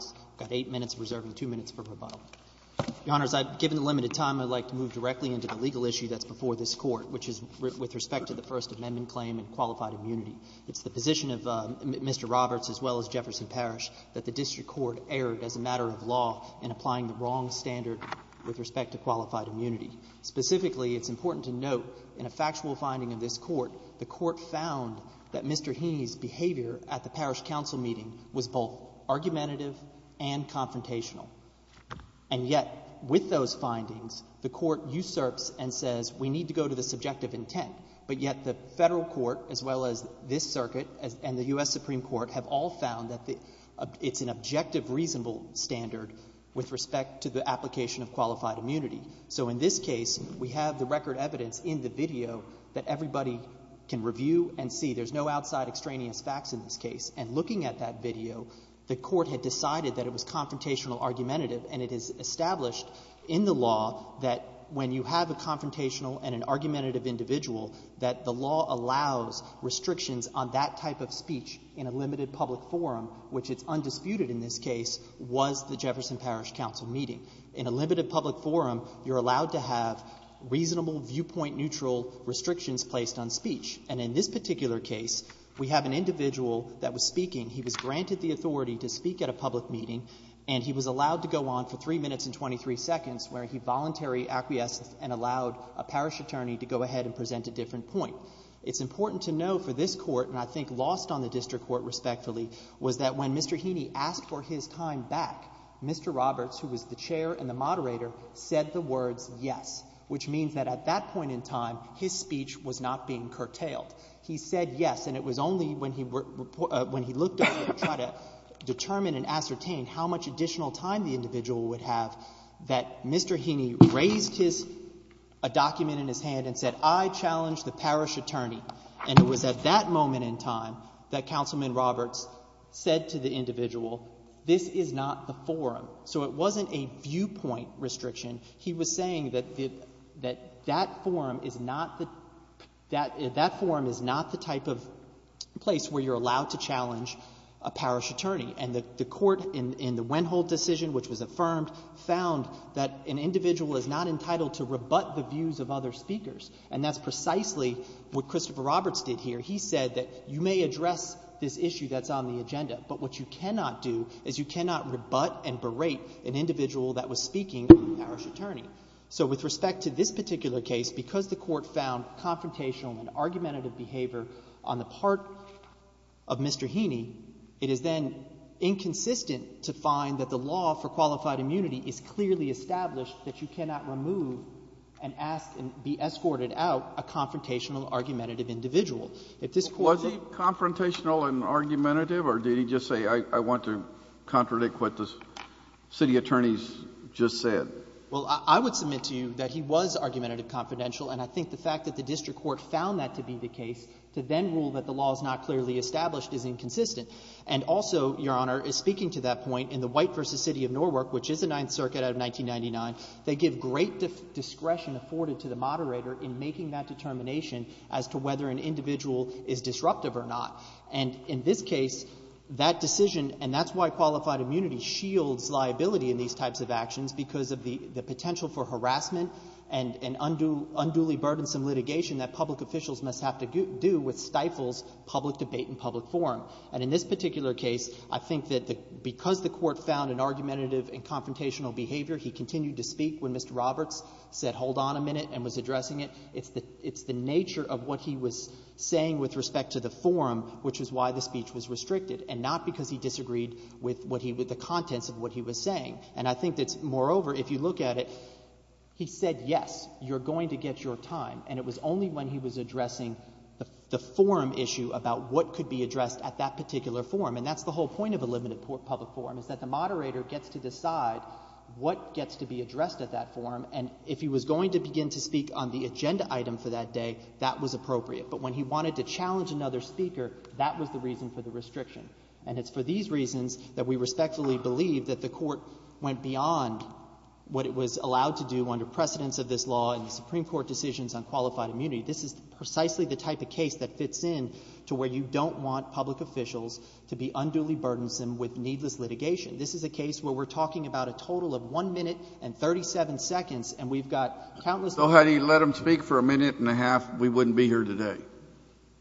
I've got eight minutes, reserving two minutes for rebuttal. Your Honors, given the limited time, I'd like to move directly into the legal issue that's before this court, which is with respect to the First Amendment claim and qualified immunity. It's the position of Mr. Roberts as well as Jefferson Parish that the district court erred as a matter of law in applying the wrong standard with respect to qualified immunity. Specifically, it's important to note in a factual finding of this court, the court found that Mr. Heaney's behavior at the parish council meeting was both argumentative and confrontational. And yet, with those findings, the court usurps and says, we need to go to the subjective intent. But yet, the federal court as well as this circuit and the US Supreme Court have all found that it's an objective, reasonable standard with respect to the application of qualified immunity. So in this case, we have the record evidence in the video that everybody can review and see. There's no outside extraneous facts in this case. And looking at that video, the court had decided that it was confrontational argumentative. And it is established in the law that when you have a confrontational and an argumentative individual, that the law allows restrictions on that type of speech in a limited public forum, which it's undisputed in this case, was the Jefferson Parish Council meeting. In a limited public forum, you're allowed to have reasonable viewpoint neutral restrictions placed on speech. And in this particular case, we have an individual that was speaking. He was granted the authority to speak at a public meeting. And he was allowed to go on for three minutes and 23 seconds, where he voluntary acquiesced and allowed a parish attorney to go ahead and present a different point. It's important to know for this court, and I think lost on the district court respectfully, was that when Mr. Heaney asked for his time back, Mr. Roberts, who was the chair and the moderator, said the words yes, which means that at that point in time, his speech was not being curtailed. He said yes. And it was only when he looked at it to try to determine and ascertain how much additional time the individual would have that Mr. Heaney raised a document in his hand and said, I challenge the parish attorney. And it was at that moment in time that Councilman Roberts said to the individual, this is not the forum. So it wasn't a viewpoint restriction. He was saying that that forum is not the type of place where you're allowed to challenge a parish attorney. And the court in the Wendholdt decision, which was affirmed, found that an individual is not entitled to rebut the views of other speakers. And that's precisely what Christopher Roberts did here. He said that you may address this issue that's on the agenda, but what you cannot do is you cannot rebut and berate an individual that was speaking to the parish attorney. So with respect to this particular case, because the court found confrontational and argumentative behavior on the part of Mr. Heaney, it is then inconsistent to find that the law for qualified immunity is clearly established that you cannot remove and ask and be escorted out a confrontational argumentative individual. If this court Was he confrontational and argumentative, or did he just say, I want to contradict what the city attorneys just said? Well, I would submit to you that he was argumentative and confidential. And I think the fact that the district court found that to be the case to then rule that the law is not clearly established is inconsistent. And also, Your Honor, is speaking to that point in the White v. City of Norwalk, which is the Ninth Circuit out of 1999, they give great discretion afforded to the moderator in making that determination as to whether an individual is disruptive or not. And in this case, that decision, and that's why qualified immunity shields liability in these types of actions, because of the potential for harassment and unduly burdensome litigation that public officials must have to do with stifles, public debate, and public forum. And in this particular case, I think that because the court found an argumentative and confrontational behavior, he continued to speak when Mr. Roberts said, hold on a minute, and was addressing it. It's the nature of what he was saying with respect to the forum, which is why the speech was restricted, and not because he disagreed with the contents of what he was saying. And I think that, moreover, if you look at it, he said, yes, you're going to get your time. And it was only when he was addressing the forum issue about what could be addressed at that particular forum. And that's the whole point of a limited public forum, is that the moderator gets to decide what gets to be addressed at that forum. And if he was going to begin to speak on the agenda item for that day, that was appropriate. But when he wanted to challenge another speaker, that was the reason for the restriction. And it's for these reasons that we respectfully believe that the court went beyond what it was allowed to do under precedence of this law and the Supreme Court decisions on qualified immunity. This is precisely the type of case that fits in to where you don't want public officials to be unduly burdensome with needless litigation. This is a case where we're talking about a total of one minute and 37 seconds, and we've got countless people. So had he let him speak for a minute and a half, we wouldn't be here today.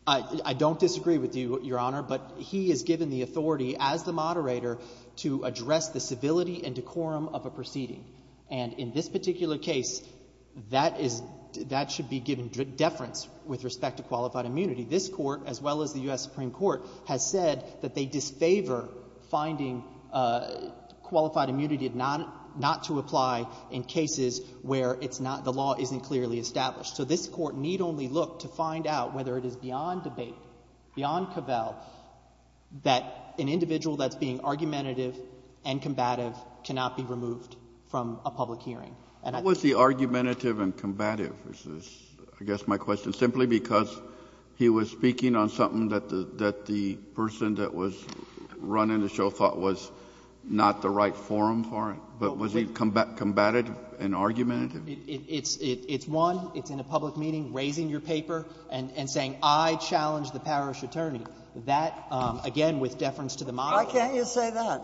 I don't disagree with you, Your Honor, but he is given the authority as the moderator to address the civility and decorum of a proceeding. And in this particular case, that should be given deference with respect to qualified immunity. This court, as well as the US Supreme Court, has said that they disfavor finding qualified immunity not to apply in cases where the law isn't clearly established. So this court need only look to find out whether it is beyond debate, beyond cavel, that an individual that's being argumentative and combative cannot be removed from a public hearing. And I think that's fair. What was the argumentative and combative, I guess my question, simply because he was speaking on something that the person that was running the show thought was not the right forum for it? But was he combative and argumentative? It's one. It's in a public meeting, raising your paper, and saying, I challenge the parish attorney. That, again, with deference to the moderator. Why can't you say that?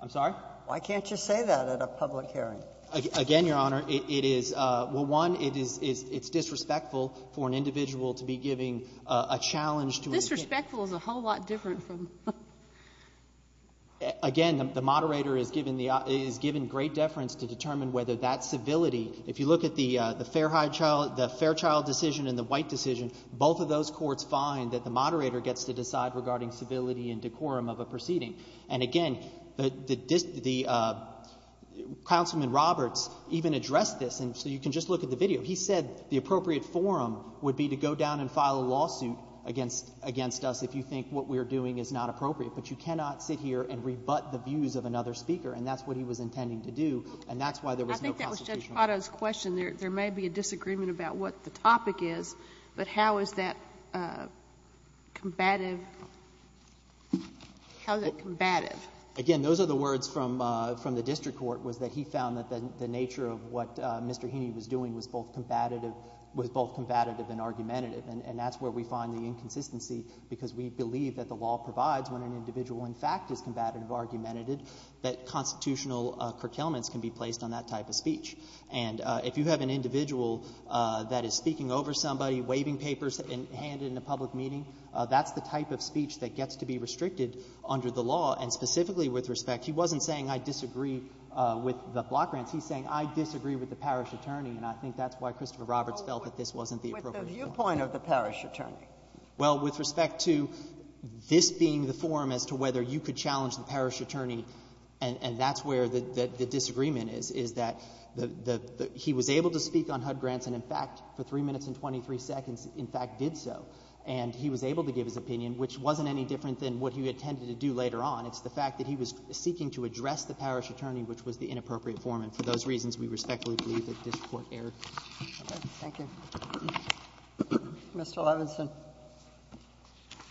I'm sorry? Why can't you say that at a public hearing? Again, Your Honor, it is, well, one, it is disrespectful for an individual to be giving a challenge to an individual. Disrespectful is a whole lot different from. Again, the moderator is given great deference to determine whether that civility, if you look at the Fairchild decision and the White decision, both of those courts find that the moderator gets to decide regarding civility and decorum of a proceeding. And again, the Councilman Roberts even addressed this. And so you can just look at the video. He said the appropriate forum would be to go down and file a lawsuit against us if you think what we're doing is not appropriate. But you cannot sit here and rebut the views of another speaker. And that's what he was intending to do. And that's why there was no constitutional. I think that was Judge Pado's question. There may be a disagreement about what the topic is. But how is that combative? How is it combative? Again, those are the words from the district court, was that he found that the nature of what Mr. Heaney was doing was both combative and argumentative. And that's where we find the inconsistency, because we believe that the law provides when an individual, in fact, is combative or argumentative, that constitutional curtailments can be placed on that type of speech. And if you have an individual that is speaking over somebody, waving papers and handing in a public meeting, that's the type of speech that gets to be restricted under the law. And specifically with respect, he wasn't saying I disagree with the block grants. He's saying I disagree with the parish attorney. And I think that's why Christopher Roberts felt that this wasn't the appropriate point. With the viewpoint of the parish attorney. Well, with respect to this being the forum as to whether you could challenge the parish attorney, and that's where the disagreement is, is that he was able to speak on HUD grants, and in fact, for 3 minutes and 23 seconds, in fact, did so. And he was able to give his opinion, which wasn't any different than what he had tended to do later on. It's the fact that he was seeking to address the parish attorney, which was the inappropriate forum. And for those reasons, we respectfully Thank you. Mr. Levinson.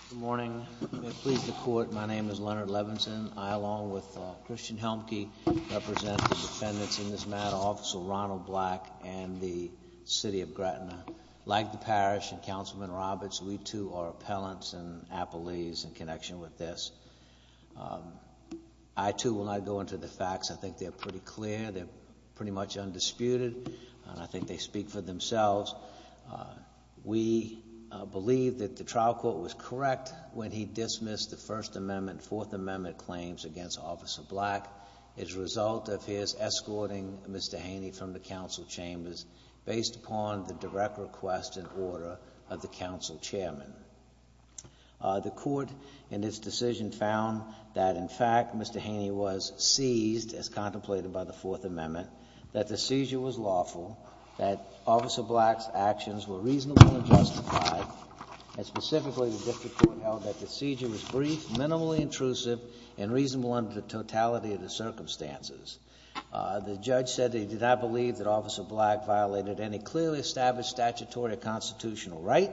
Good morning. May it please the court. My name is Leonard Levinson. I, along with Christian Helmke, represent the defendants in this matter, Officer Ronald Black and the city of Gratina. Like the parish and Councilman Roberts, we too are appellants and appellees in connection with this. I too will not go into the facts. I think they're pretty clear. They're pretty much undisputed. And I think they speak for themselves. We believe that the trial court was correct when he dismissed the First Amendment, Fourth Amendment claims against Officer Black as a result of his escorting Mr. Haney from the council chambers based upon the direct request and order of the council chairman. The court in its decision found that, in fact, Mr. Haney was seized, as contemplated by the Fourth Amendment, that the seizure was lawful, that Officer Black's actions were reasonably justified, and specifically, the district court held that the seizure was brief, minimally intrusive, and reasonable under the totality of the circumstances. The judge said that he did not believe that Officer Black violated any clearly established statutory or constitutional right,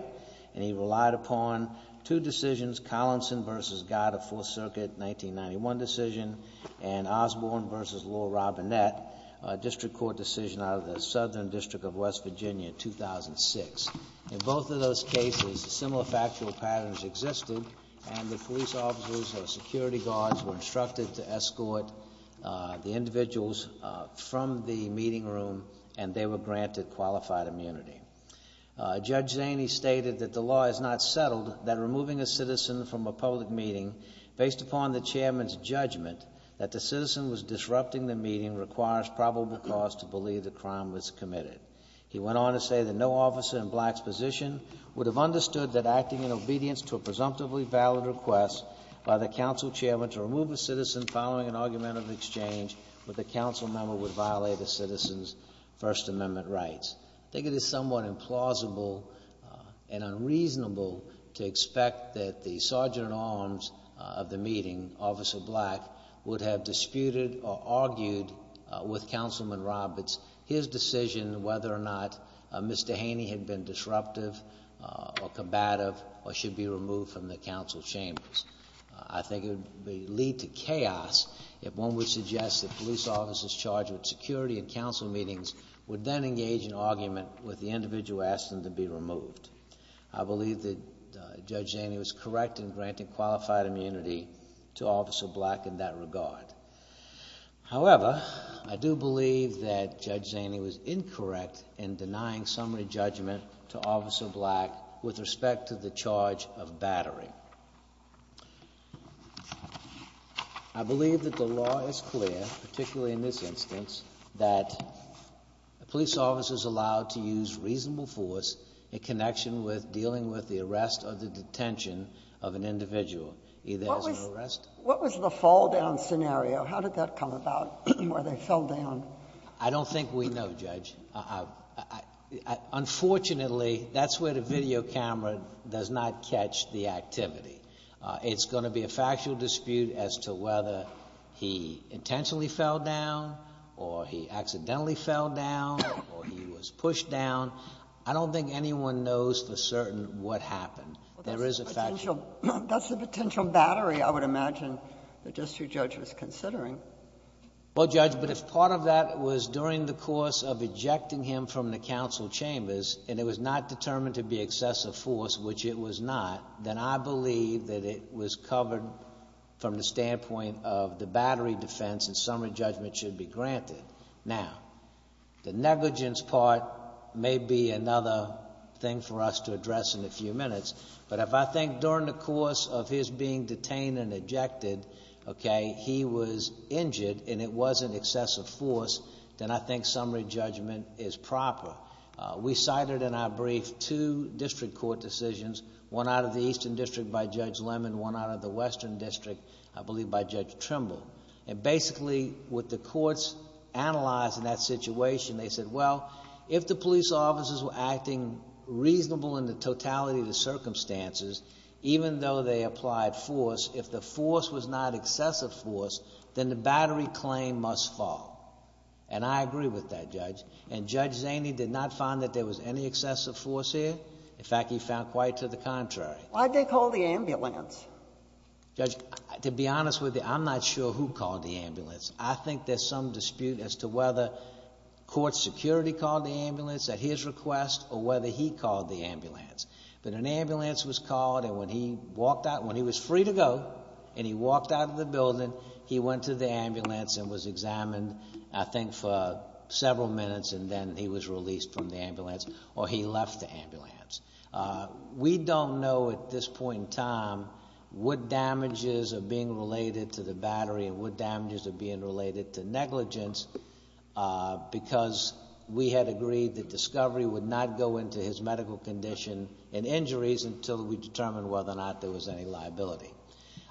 and he relied upon two decisions, Collinson versus Goddard, Fourth Circuit, 1991 decision, and Osborne versus Laura Robinette, a district court decision out of the Southern District of West Virginia, 2006. In both of those cases, similar factual patterns existed, and the police officers and security guards were instructed to escort the individuals from the meeting room, and they were granted qualified immunity. Judge Haney stated that the law is not settled that removing a citizen from a public meeting, based upon the chairman's judgment that the citizen was disrupting the meeting, requires probable cause to believe the crime was committed. He went on to say that no officer in Black's position would have understood that acting in obedience to a presumptively valid request by the council chairman to remove a citizen following an argumentative exchange with a council member would violate a citizen's First Amendment rights. I think it is somewhat implausible and unreasonable to expect that the Sergeant-at-Arms of the meeting, Officer Black, would have disputed or argued with Councilman Roberts his decision whether or not Mr. Haney had been disruptive or combative or should be removed from the council chambers. I think it would lead to chaos if one would suggest that police officers charged with security in council meetings would then engage in argument with the individual asked them to be removed. I believe that Judge Haney was correct in granting qualified immunity to Officer Black in that regard. However, I do believe that Judge Haney was incorrect in denying summary judgment to Officer Black with respect to the charge of battery. I believe that the law is clear, particularly in this instance, that police officers allowed to use reasonable force in connection with dealing with the arrest or the detention of an individual, either as an arrest. What was the fall-down scenario? How did that come about, where they fell down? I don't think we know, Judge. Unfortunately, that's where the video camera does not catch the activity. It's gonna be a factual dispute as to whether he intentionally fell down or he accidentally fell down or he was pushed down. I don't think anyone knows for certain what happened. There is a factual... That's the potential battery, I would imagine, that District Judge was considering. Well, Judge, but if part of that was during the course of ejecting him from the council chambers and it was not determined to be excessive force, which it was not, then I believe that it was covered from the standpoint of the battery defense and summary judgment should be granted. Now, the negligence part may be another thing for us to address in a few minutes, but if I think during the course of his being detained and ejected, okay, he was injured and it wasn't excessive force, then I think summary judgment is proper. We cited in our brief two district court decisions, one out of the Eastern District by Judge Lemon, one out of the Western District, I believe, by Judge Trimble, and basically, what the courts analyzed in that situation, they said, well, if the police officers were acting reasonable in the totality of the circumstances, even though they applied force, if the force was not excessive force, then the battery claim must fall, and I agree with that, Judge, and Judge Zaney did not find that there was any excessive force here. In fact, he found quite to the contrary. Why'd they call the ambulance? Judge, to be honest with you, I'm not sure who called the ambulance. I think there's some dispute as to whether court security called the ambulance at his request or whether he called the ambulance, but an ambulance was called, and when he walked out, when he was free to go, and he walked out of the building, he went to the ambulance and was examined, I think, for several minutes, and then he was released from the ambulance, or he left the ambulance. We don't know at this point in time what damages are being related to the battery and what damages are being related to negligence, because we had agreed that discovery would not go into his medical condition and injuries until we determined whether or not there was any liability.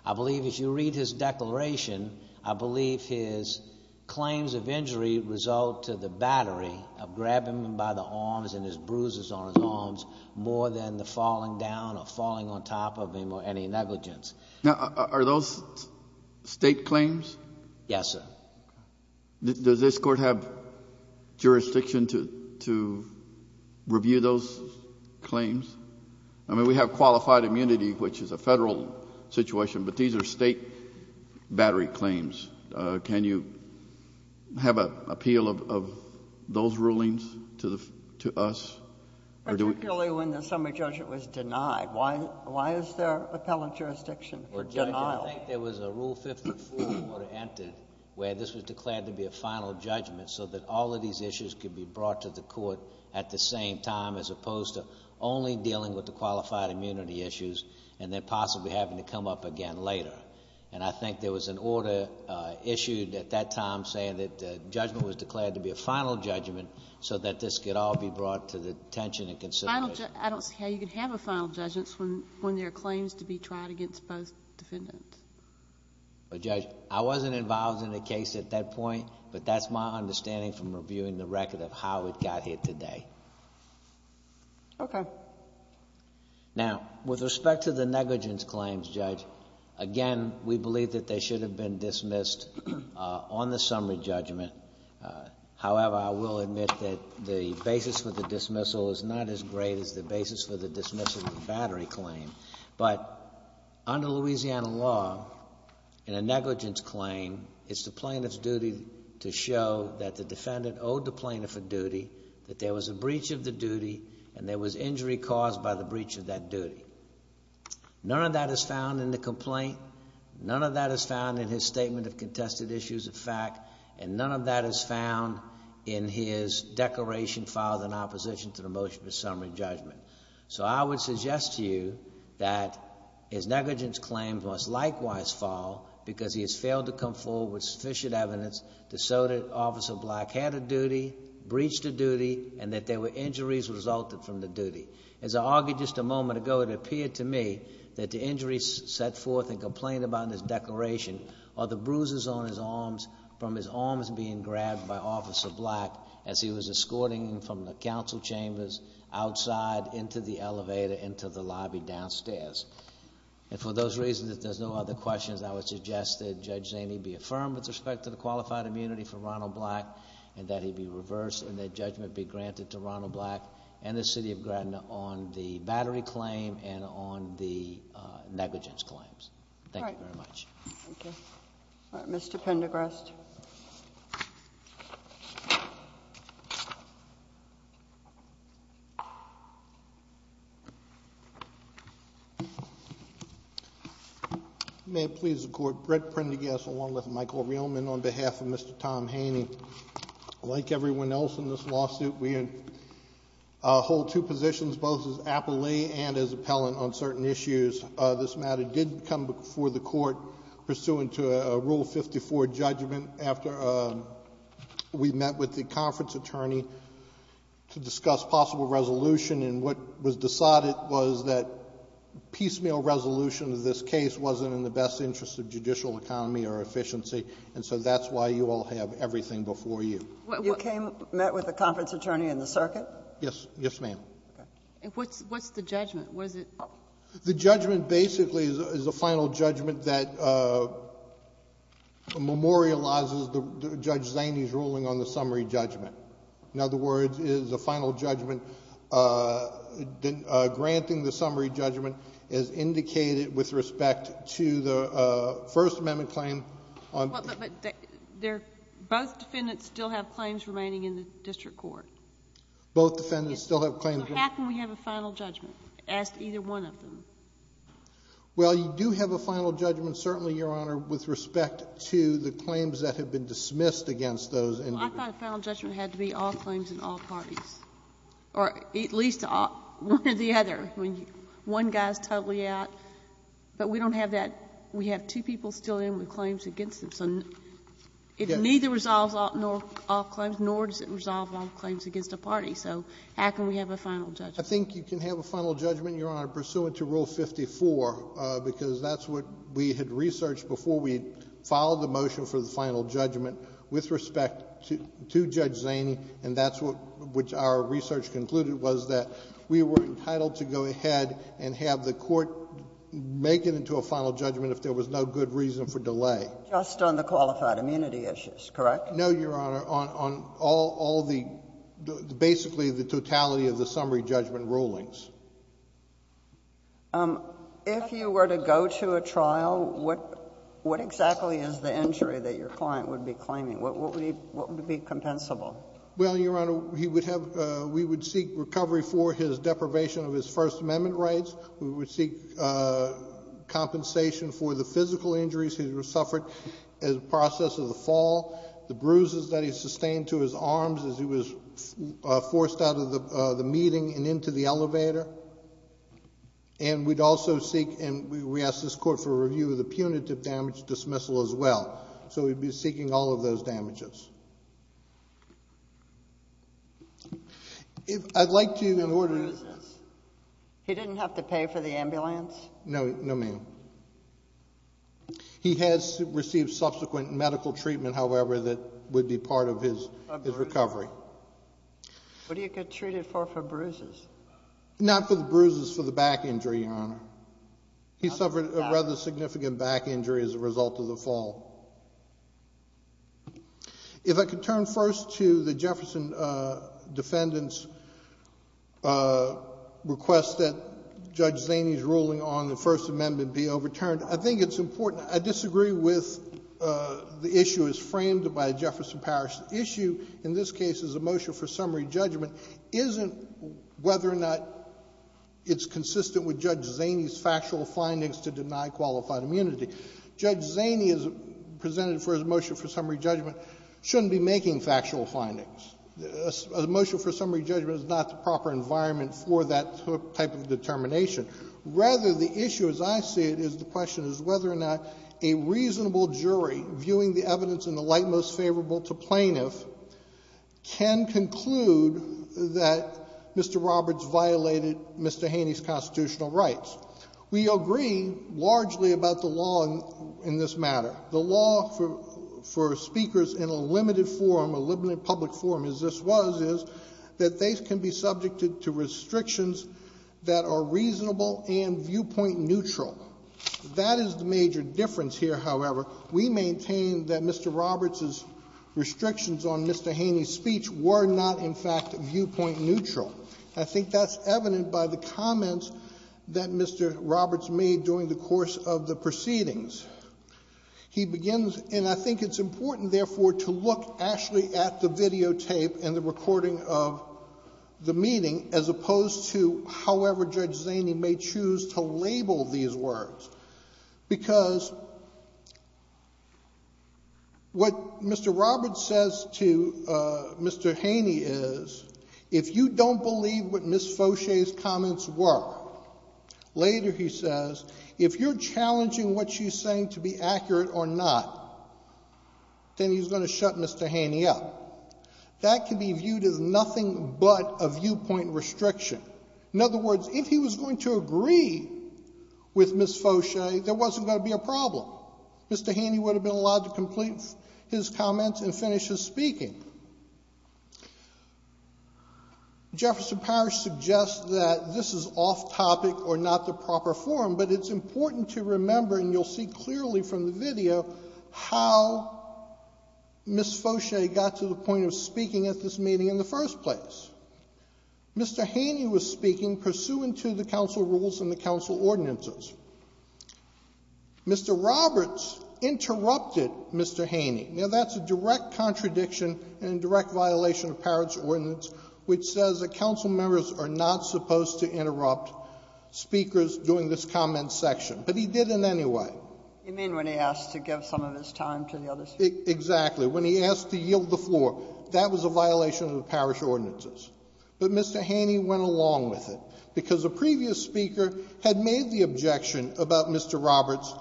I believe if you read his declaration, I believe his claims of injury result to the battery of grabbing him by the arms and his bruises on his arms more than the falling down or falling on top of him or any negligence. Now, are those state claims? Yes, sir. Does this court have jurisdiction to review those claims? I mean, we have qualified immunity, which is a federal situation, but these are state battery claims. Can you have an appeal of those rulings to us? Particularly when the summary judgment was denied. Why is there appellate jurisdiction for denial? I think there was a Rule 54 that would have entered where this was declared to be a final judgment so that all of these issues could be brought to the court at the same time, as opposed to only dealing with the qualified immunity issues and then possibly having to come up again later. And I think there was an order issued at that time saying that judgment was declared to be a final judgment so that this could all be brought to the attention and consideration. I don't see how you could have a final judgment when there are claims to be tried against both defendants. But Judge, I wasn't involved in the case at that point, but that's my understanding from reviewing the record of how it got here today. Okay. Now, with respect to the negligence claims, Judge, again, we believe that they should have been dismissed on the summary judgment. However, I will admit that the basis for the dismissal is not as great as the basis for the dismissal of the battery claim. But under Louisiana law, in a negligence claim, it's the plaintiff's duty to show that the defendant owed the plaintiff a duty, that there was a breach of the duty, and there was injury caused by the breach of that duty. None of that is found in the complaint. None of that is found in his statement of contested issues of fact. And none of that is found in his declaration filed in opposition to the motion of a summary judgment. So I would suggest to you that his negligence claims must likewise fall because he has failed to come forward with sufficient evidence to show that Officer Black had a duty, breached a duty, and that there were injuries resulted from the duty. As I argued just a moment ago, it appeared to me that the injuries set forth in complaint about in his declaration are the bruises on his arms from his arms being grabbed by Officer Black as he was escorting him from the council chambers outside into the elevator, into the lobby downstairs. And for those reasons, if there's no other questions, I would suggest that Judge Zaney be affirmed with respect to the qualified immunity for Ronald Black and that he be reversed and that judgment be granted to Ronald Black and the city of Gratina on the battery claim and on the negligence claims. Thank you very much. Thank you. All right, Mr. Pendergrast. Thank you. May it please the court, Brett Pendergrast along with Michael Rehlman on behalf of Mr. Tom Haney. Like everyone else in this lawsuit, we hold two positions, both as appellee and as appellant on certain issues. This matter did come before the court pursuant to a Rule 54 judgment after we met with the conference attorney to discuss possible resolution. And what was decided was that piecemeal resolution of this case wasn't in the best interest of judicial economy or efficiency. And so that's why you all have everything before you. You came, met with the conference attorney in the circuit? Yes, yes ma'am. And what's the judgment? Was it? The judgment basically is a final judgment that memorializes Judge Zaney's ruling on the summary judgment. In other words, it is a final judgment. Granting the summary judgment is indicated with respect to the First Amendment claim on. But both defendants still have claims remaining in the district court. Both defendants still have claims. So how can we have a final judgment as to either one of them? Well, you do have a final judgment, certainly, Your Honor, with respect to the claims that have been dismissed against those individuals. I thought a final judgment had to be all claims in all parties. Or at least one or the other. One guy's totally out. But we don't have that. We have two people still in with claims against them. So it neither resolves all claims, nor does it resolve all claims against a party. So how can we have a final judgment? I think you can have a final judgment, Your Honor, pursuant to Rule 54, because that's what we had researched before we filed the motion for the final judgment with respect to Judge Zaney. And that's what our research concluded, was that we were entitled to go ahead and have the court make it into a final judgment if there was no good reason for delay. Just on the qualified immunity issues, correct? No, Your Honor, on all the, basically, the totality of the summary judgment rulings. what exactly is the injury that your client would be claiming? What would be compensable? Well, Your Honor, we would seek recovery for his deprivation of his First Amendment rights. We would seek compensation for the physical injuries he suffered in the process of the fall, the bruises that he sustained to his arms as he was forced out of the meeting and into the elevator. And we'd also seek, and we asked this court for a review of the punitive damage dismissal as well. So we'd be seeking all of those damages. I'd like to, in order to- Bruises? He didn't have to pay for the ambulance? No, no ma'am. He has received subsequent medical treatment, however, that would be part of his recovery. What do you get treated for for bruises? Not for the bruises, for the back injury, Your Honor. He suffered a rather significant back injury as a result of the fall. If I could turn first to the Jefferson defendant's request that Judge Zaney's ruling on the First Amendment be overturned. I think it's important. I disagree with the issue as framed by a Jefferson Parish issue. In this case, it's a motion for summary judgment. Isn't whether or not it's consistent with Judge Zaney's factual findings to deny qualified immunity. Judge Zaney presented for his motion for summary judgment shouldn't be making factual findings. A motion for summary judgment is not the proper environment for that type of determination. Rather, the issue as I see it is the question is whether or not a reasonable jury viewing the evidence in the light most favorable to plaintiff can conclude that Mr. Roberts violated Mr. Haney's constitutional rights. We agree largely about the law in this matter. The law for speakers in a limited public forum as this was is that they can be subjected to restrictions that are reasonable and viewpoint neutral. That is the major difference here, however. We maintain that Mr. Roberts's restrictions on Mr. Haney's speech were not, in fact, viewpoint neutral. I think that's evident by the comments that Mr. Roberts made during the course of the proceedings. He begins, and I think it's important, therefore, to look actually at the videotape and the recording of the meeting as opposed to however Judge Zaney may choose to label these words. Because what Mr. Roberts says to Mr. Haney is, if you don't believe what Ms. Foshay's comments were, later he says, if you're challenging what she's saying to be accurate or not, then he's going to shut Mr. Haney up. That can be viewed as nothing but a viewpoint restriction. In other words, if he was going to agree with Ms. Foshay, there wasn't going to be a problem. Mr. Haney would have been allowed to complete his comments and finish his speaking. Jefferson Parish suggests that this is off topic or not the proper form, but it's important to remember, and you'll see clearly from the video, how Ms. Foshay got to the point of speaking at this meeting in the first place. Mr. Haney was speaking pursuant to the council rules and the council ordinances. Mr. Roberts interrupted Mr. Haney. Now, that's a direct contradiction and a direct violation of Parish ordinance, which says that council members are not supposed to interrupt speakers doing this comment section. But he did in any way. You mean when he asked to give some of his time to the other speakers? Exactly. When he asked to yield the floor, that was a violation of the Parish ordinances. But Mr. Haney went along with it, because a previous speaker had made the objection about Mr. Roberts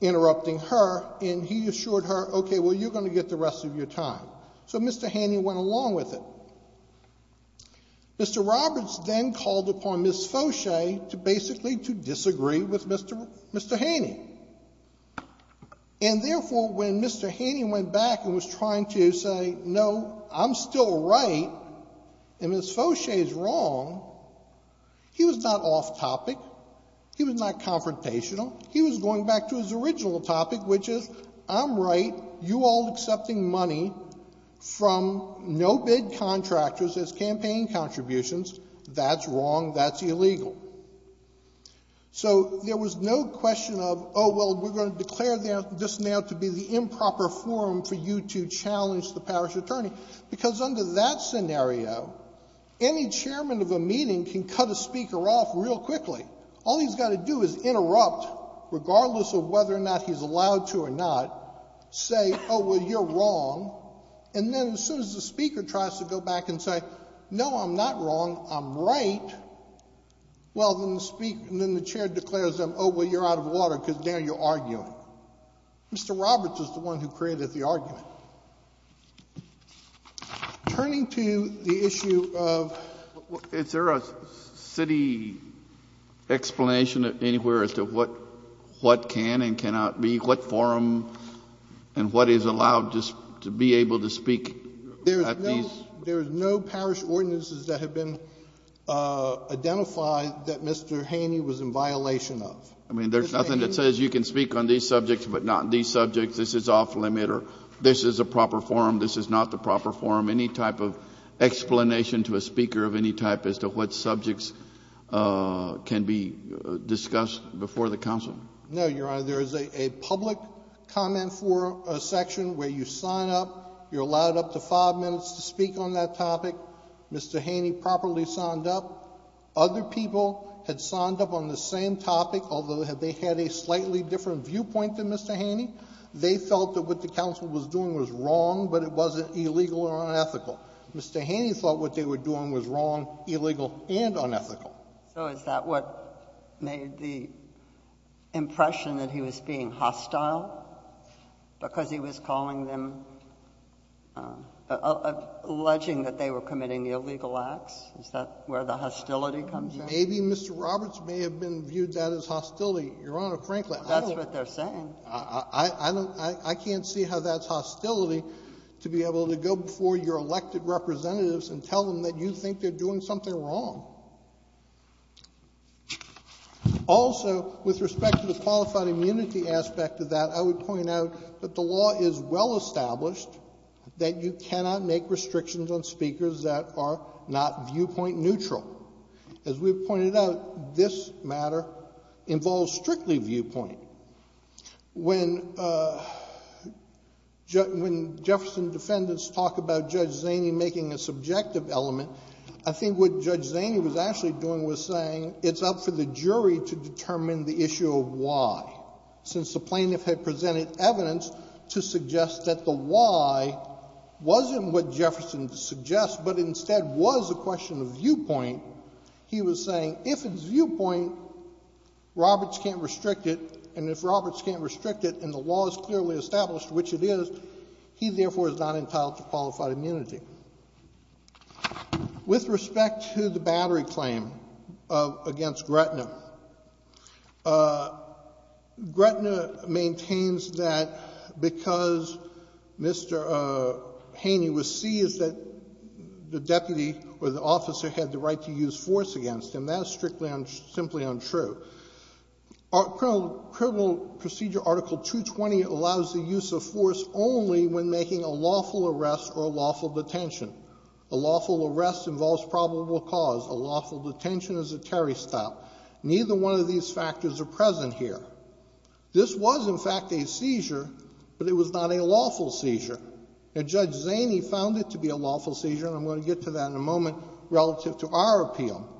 interrupting her, and he assured her, OK, well, you're going to get the rest of your time. So Mr. Haney went along with it. Mr. Roberts then called upon Ms. Foshay to basically disagree with Mr. Haney. And therefore, when Mr. Haney went back and was trying to say, no, I'm still right, and Ms. Foshay is wrong, he was not off topic. He was not confrontational. He was going back to his original topic, which is, I'm right. You all accepting money from no-bid contractors as campaign contributions, that's wrong. That's illegal. So there was no question of, oh, well, we're going to declare this now to be the improper forum for you to challenge the parish attorney. Because under that scenario, any chairman of a meeting can cut a speaker off real quickly. All he's got to do is interrupt, regardless of whether or not he's allowed to or not, say, oh, well, you're wrong. And then as soon as the speaker tries to go back and say, no, I'm not wrong, I'm right, well, then the chair declares, oh, well, you're out of water, because now you're arguing. Mr. Roberts is the one who created the argument. Turning to the issue of, is there a city explanation anywhere as to what can and cannot be, what forum and what is allowed just to be able to speak at these? There is no parish ordinances that have been identified that Mr. Haney was in violation of. I mean, there's nothing that says you can speak on these subjects, but not these subjects. This is off-limit, or this is a proper forum, this is not the proper forum. Any type of explanation to a speaker of any type as to what subjects can be discussed before the council? No, Your Honor, there is a public comment forum section where you sign up, you're allowed up to five minutes to speak on that topic. Mr. Haney properly signed up. Other people had signed up on the same topic, although they had a slightly different viewpoint than Mr. Haney. They felt that what the council was doing was wrong, but it wasn't illegal or unethical. Mr. Haney thought what they were doing was wrong, illegal, and unethical. So is that what made the impression that he was being hostile? Because he was calling them, alleging that they were committing illegal acts? Is that where the hostility comes in? Maybe Mr. Roberts may have been viewed that as hostility, Your Honor, frankly. That's what they're saying. I can't see how that's hostility, to be able to go before your elected representatives and tell them that you think they're doing something wrong. Also, with respect to the qualified immunity aspect of that, I would point out that the law is well-established that you cannot make restrictions on speakers that are not viewpoint neutral. As we've pointed out, this matter involves strictly viewpoint. When Jefferson defendants talk about Judge Zaney making a subjective element, I think what Judge Zaney was actually doing was saying it's up for the jury to determine the issue of why. Since the plaintiff had presented evidence to suggest that the why wasn't what Jefferson suggests, but instead was a question of viewpoint, he was saying if it's viewpoint, Roberts can't restrict it. And if Roberts can't restrict it, and the law is clearly established, which it is, he therefore is not entitled to qualified immunity. With respect to the battery claim against Gretna, Gretna maintains that because Mr. Haney was C, is that the deputy or the officer had the right to use force against him. That is strictly and simply untrue. Criminal Procedure Article 220 allows the use of force only when making a lawful arrest or a lawful detention. A lawful arrest involves probable cause. A lawful detention is a Terry stop. Neither one of these factors are present here. This was, in fact, a seizure, but it was not a lawful seizure. And Judge Zaney found it to be a lawful seizure, and I'm going to get to that in a moment relative to our appeal.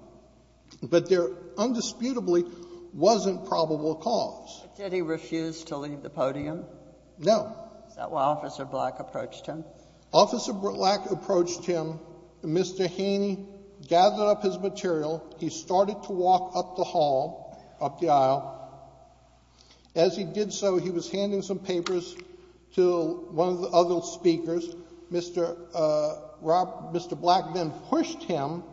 But there undisputably wasn't probable cause. Did he refuse to leave the podium? No. Is that why Officer Black approached him? Officer Black approached him. Mr. Haney gathered up his material. He started to walk up the hall, up the aisle. As he did so, he was handing some papers to one of the other speakers. Mr. Black then pushed him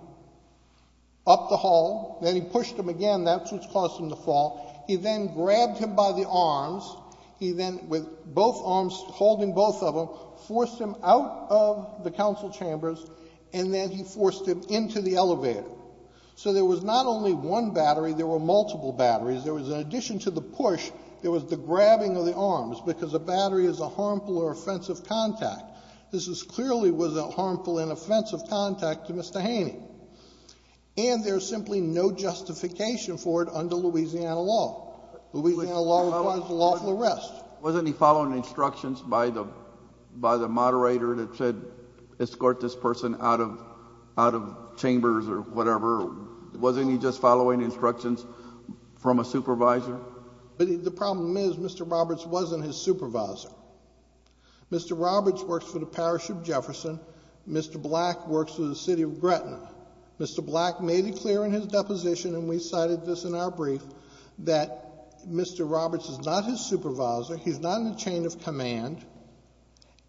up the hall. Then he pushed him again. That's what caused him to fall. He then grabbed him by the arms. He then, with both arms holding both of them, forced him out of the council chambers, and then he forced him into the elevator. So there was not only one battery. There were multiple batteries. There was, in addition to the push, there was the grabbing of the arms because a battery is a harmful or offensive contact. This clearly was a harmful and offensive contact to Mr. Haney. And there's simply no justification for it under Louisiana law. Louisiana law requires a lawful arrest. Wasn't he following instructions by the moderator that said, escort this person out of chambers or whatever? Wasn't he just following instructions from a supervisor? But the problem is Mr. Roberts wasn't his supervisor. Mr. Roberts works for the Parish of Jefferson. Mr. Black works for the city of Gretna. Mr. Black made it clear in his deposition, and we cited this in our brief, that Mr. Roberts is not his supervisor. He's not in the chain of command.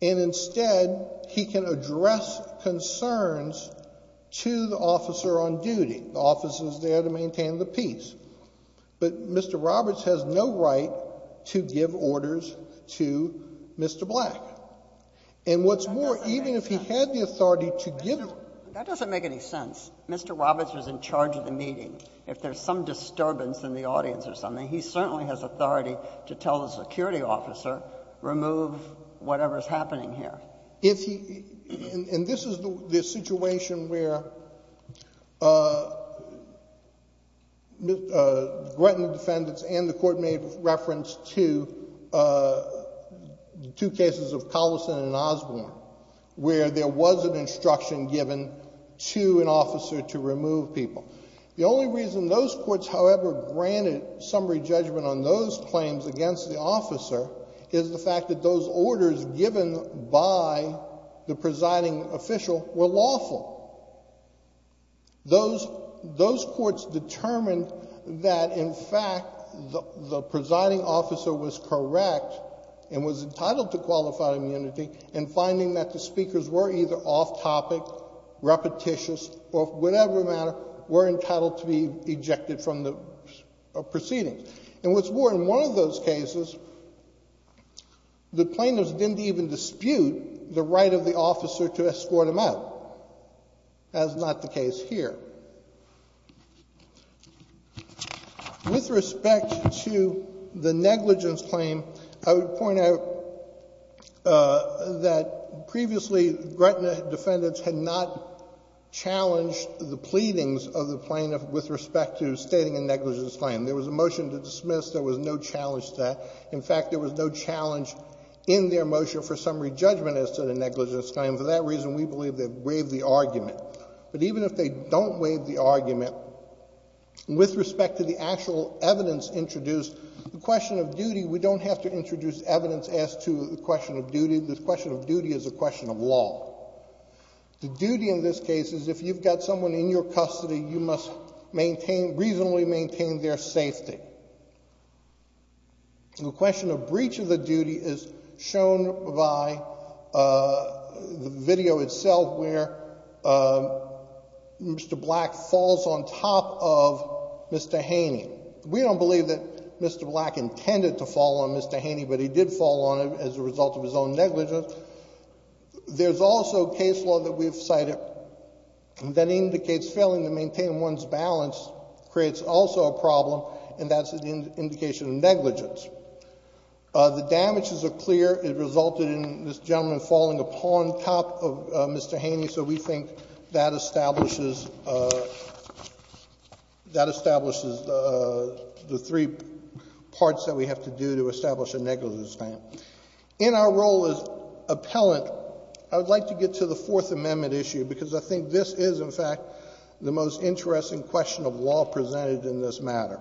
And instead, he can address concerns to the officer on duty, the officers there to maintain the peace. But Mr. Roberts has no right to give orders to Mr. Black. And what's more, even if he had the authority to give them. That doesn't make any sense. Mr. Roberts was in charge of the meeting. If there's some disturbance in the audience or something, he certainly has authority to tell the security officer, remove whatever's happening here. And this is the situation where Gretna defendants and the court made reference to two cases of Collison and Osborne, where there was an instruction given to an officer to remove people. The only reason those courts, however, granted summary judgment on those claims against the officer is the fact that those orders given by the presiding official were lawful. Those courts determined that, in fact, the presiding officer was correct and was entitled to qualified immunity in finding that the speakers were either off topic, repetitious, or whatever matter, were entitled to be ejected from the proceedings. And what's more, in one of those cases, the plaintiffs didn't even dispute the right of the officer to escort them out. That's not the case here. With respect to the negligence claim, I would point out that previously Gretna defendants had not challenged the pleadings of the plaintiff with respect to stating a negligence claim. There was a motion to dismiss. There was no challenge to that. In fact, there was no challenge in their motion for summary judgment as to the negligence claim. For that reason, we believe they waived the argument. But even if they don't waive the argument with respect to the actual evidence introduced, the question of duty, we don't have to introduce evidence as to the question of duty. The question of duty is a question of law. The duty in this case is, if you've got someone in your custody, you must reasonably maintain their safety. The question of breach of the duty is shown by the video itself, where Mr. Black falls on top of Mr. Haney. We don't believe that Mr. Black intended to fall on Mr. Haney, but he did fall on him as a result of his own negligence. There's also case law that we've cited that indicates failing to maintain one's balance creates also a problem. And that's an indication of negligence. The damages are clear. It resulted in this gentleman falling upon top of Mr. Haney. So we think that establishes the three parts that we have to do to establish a negligence claim. In our role as appellant, I would like to get to the Fourth Amendment issue, because I think this is, in fact, the most interesting question of law presented in this matter.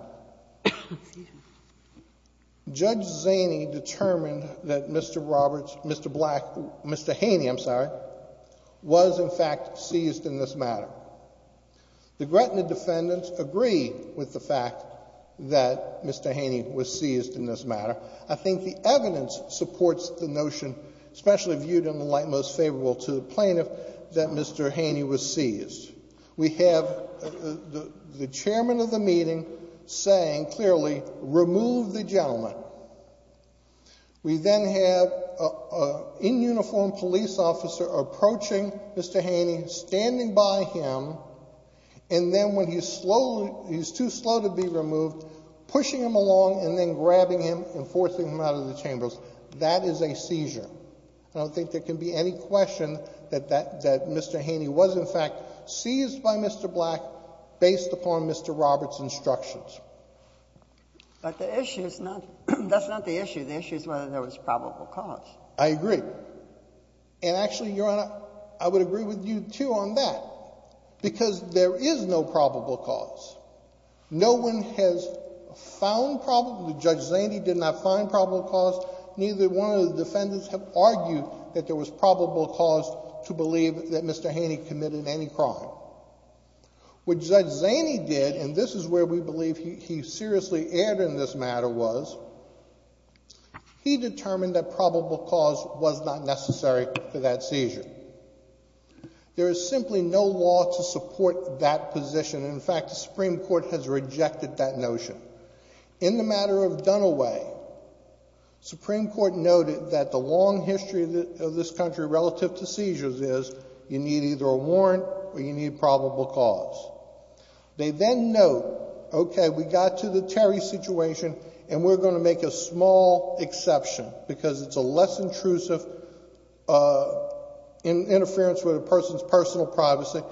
Judge Zaney determined that Mr. Black, Mr. Haney, I'm sorry, was, in fact, seized in this matter. The Gretna defendants agree with the fact that Mr. Haney was seized in this matter. I think the evidence supports the notion, especially viewed in the light most favorable to the plaintiff, that Mr. Haney was seized. We have the chairman of the meeting saying, clearly, remove the gentleman. We then have an in-uniform police officer approaching Mr. Haney, standing by him, and then when he's too slow to be removed, pushing him along and then grabbing him and forcing him out of the chambers. That is a seizure. I don't think there can be any question that Mr. Haney was, in fact, seized by Mr. Black based upon Mr. Roberts' instructions. But the issue is not, that's not the issue. The issue is whether there was probable cause. I agree. And actually, Your Honor, I would agree with you, too, on that. Because there is no probable cause. No one has found probable, Judge Zaney did not find probable cause. Neither one of the defendants have argued that there was probable cause to believe that Mr. Haney committed any crime. What Judge Zaney did, and this is where we believe he seriously erred in this matter, was he determined that probable cause was not necessary for that seizure. There is simply no law to support that position. In fact, the Supreme Court has rejected that notion. In the matter of Dunaway, Supreme Court noted that the long history of this country relative to seizures is, you need either a warrant or you need probable cause. They then note, OK, we got to the Terry situation, and we're going to make a small exception, because it's a less intrusive interference with a person's personal privacy.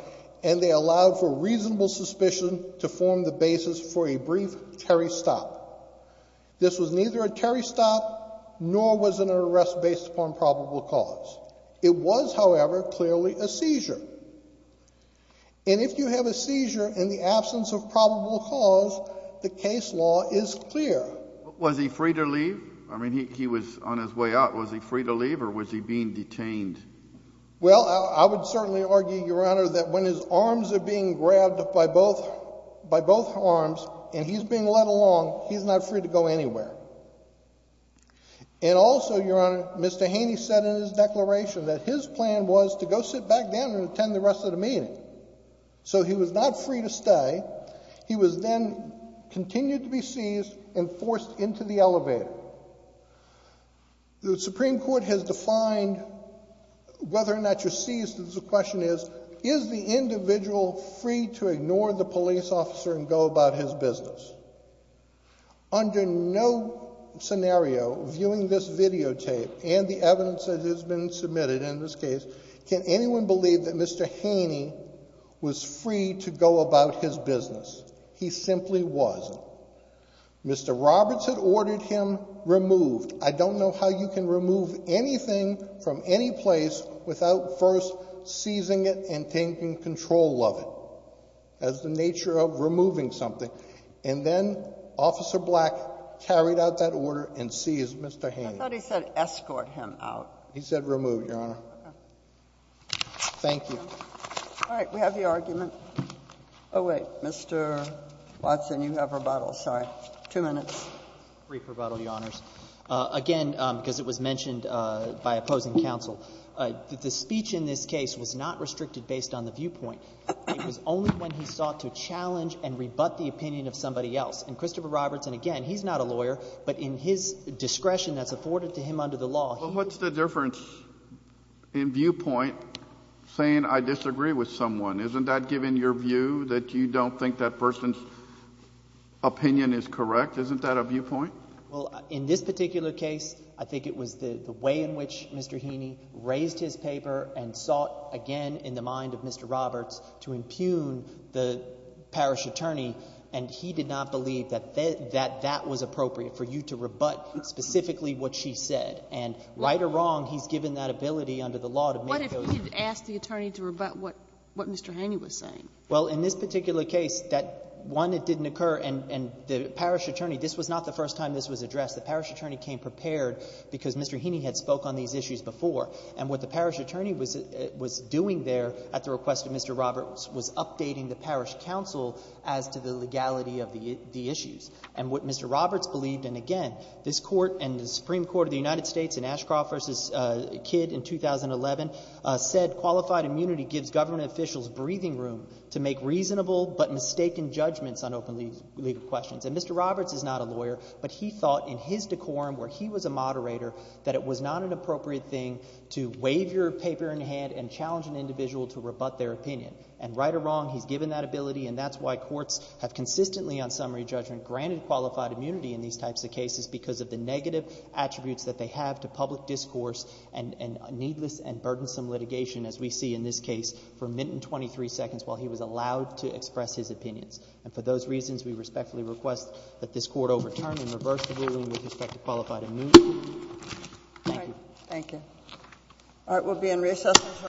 And they allow for reasonable suspicion to form the basis for a brief Terry stop. This was neither a Terry stop, nor was it an arrest based upon probable cause. It was, however, clearly a seizure. And if you have a seizure in the absence of probable cause, the case law is clear. Was he free to leave? I mean, he was on his way out. Was he free to leave, or was he being detained? Well, I would certainly argue, Your Honor, that when his arms are being grabbed by both arms, and he's being led along, he's not free to go anywhere. And also, Your Honor, Mr. Haney said in his declaration that his plan was to go sit back down and attend the rest of the meeting. So he was not free to stay. He was then continued to be seized and forced into the elevator. The Supreme Court has defined whether or not you're seized, because the question is, is the individual free to ignore the police officer and go about his business? Under no scenario, viewing this videotape and the evidence that has been submitted in this case, can anyone believe that Mr. Haney was free to go about his business? He simply wasn't. Mr. Roberts had ordered him removed. I don't know how you can remove anything from any place without first seizing it and taking control of it, as the nature of removing something. And then Officer Black carried out that order and seized Mr. Haney. I thought he said escort him out. He said remove, Your Honor. Thank you. All right, we have the argument. Oh, wait. Mr. Watson, you have rebuttal. Sorry. Two minutes. Brief rebuttal, Your Honors. Again, because it was mentioned by opposing counsel, the speech in this case was not restricted based on the viewpoint. It was only when he sought to challenge and rebut the opinion of somebody else. And Christopher Roberts, and again, he's not a lawyer, but in his discretion that's afforded to him under the law, he was. Well, what's the difference in viewpoint saying I disagree with someone? Isn't that giving your view that you don't think that person's opinion is correct? Isn't that a viewpoint? Well, in this particular case, I think it was the way in which Mr. Haney raised his paper and sought, again, in the mind of Mr. Roberts to impugn the parish attorney. And he did not believe that that was appropriate for you to rebut specifically what she said. And right or wrong, he's given that ability under the law to make those. What if he'd asked the attorney to rebut what Mr. Haney was saying? Well, in this particular case, that one, it didn't occur. And the parish attorney, this was not the first time this was addressed. The parish attorney came prepared because Mr. Haney had spoke on these issues before. And what the parish attorney was doing there at the request of Mr. Roberts was updating the parish council as to the legality of the issues. And what Mr. Roberts believed, and again, this court and the Supreme Court of the United States in Ashcroft v. Kidd in 2011 said, qualified immunity gives government officials breathing room to make reasonable but mistaken judgments on open legal questions. And Mr. Roberts is not a lawyer, but he thought in his decorum, where he was a moderator, that it was not an appropriate thing to wave your paper in hand and challenge an individual to rebut their opinion. And right or wrong, he's given that ability. And that's why courts have consistently, on summary judgment, granted qualified immunity in these types of cases because of the negative attributes that they have to public discourse and needless and burdensome litigation, as we see in this case, for a minute and 23 seconds while he was allowed to express his opinions. And for those reasons, we respectfully request that this court overturn and reverse the ruling with respect to qualified immunity. Thank you. Thank you. All right, we'll be in recess.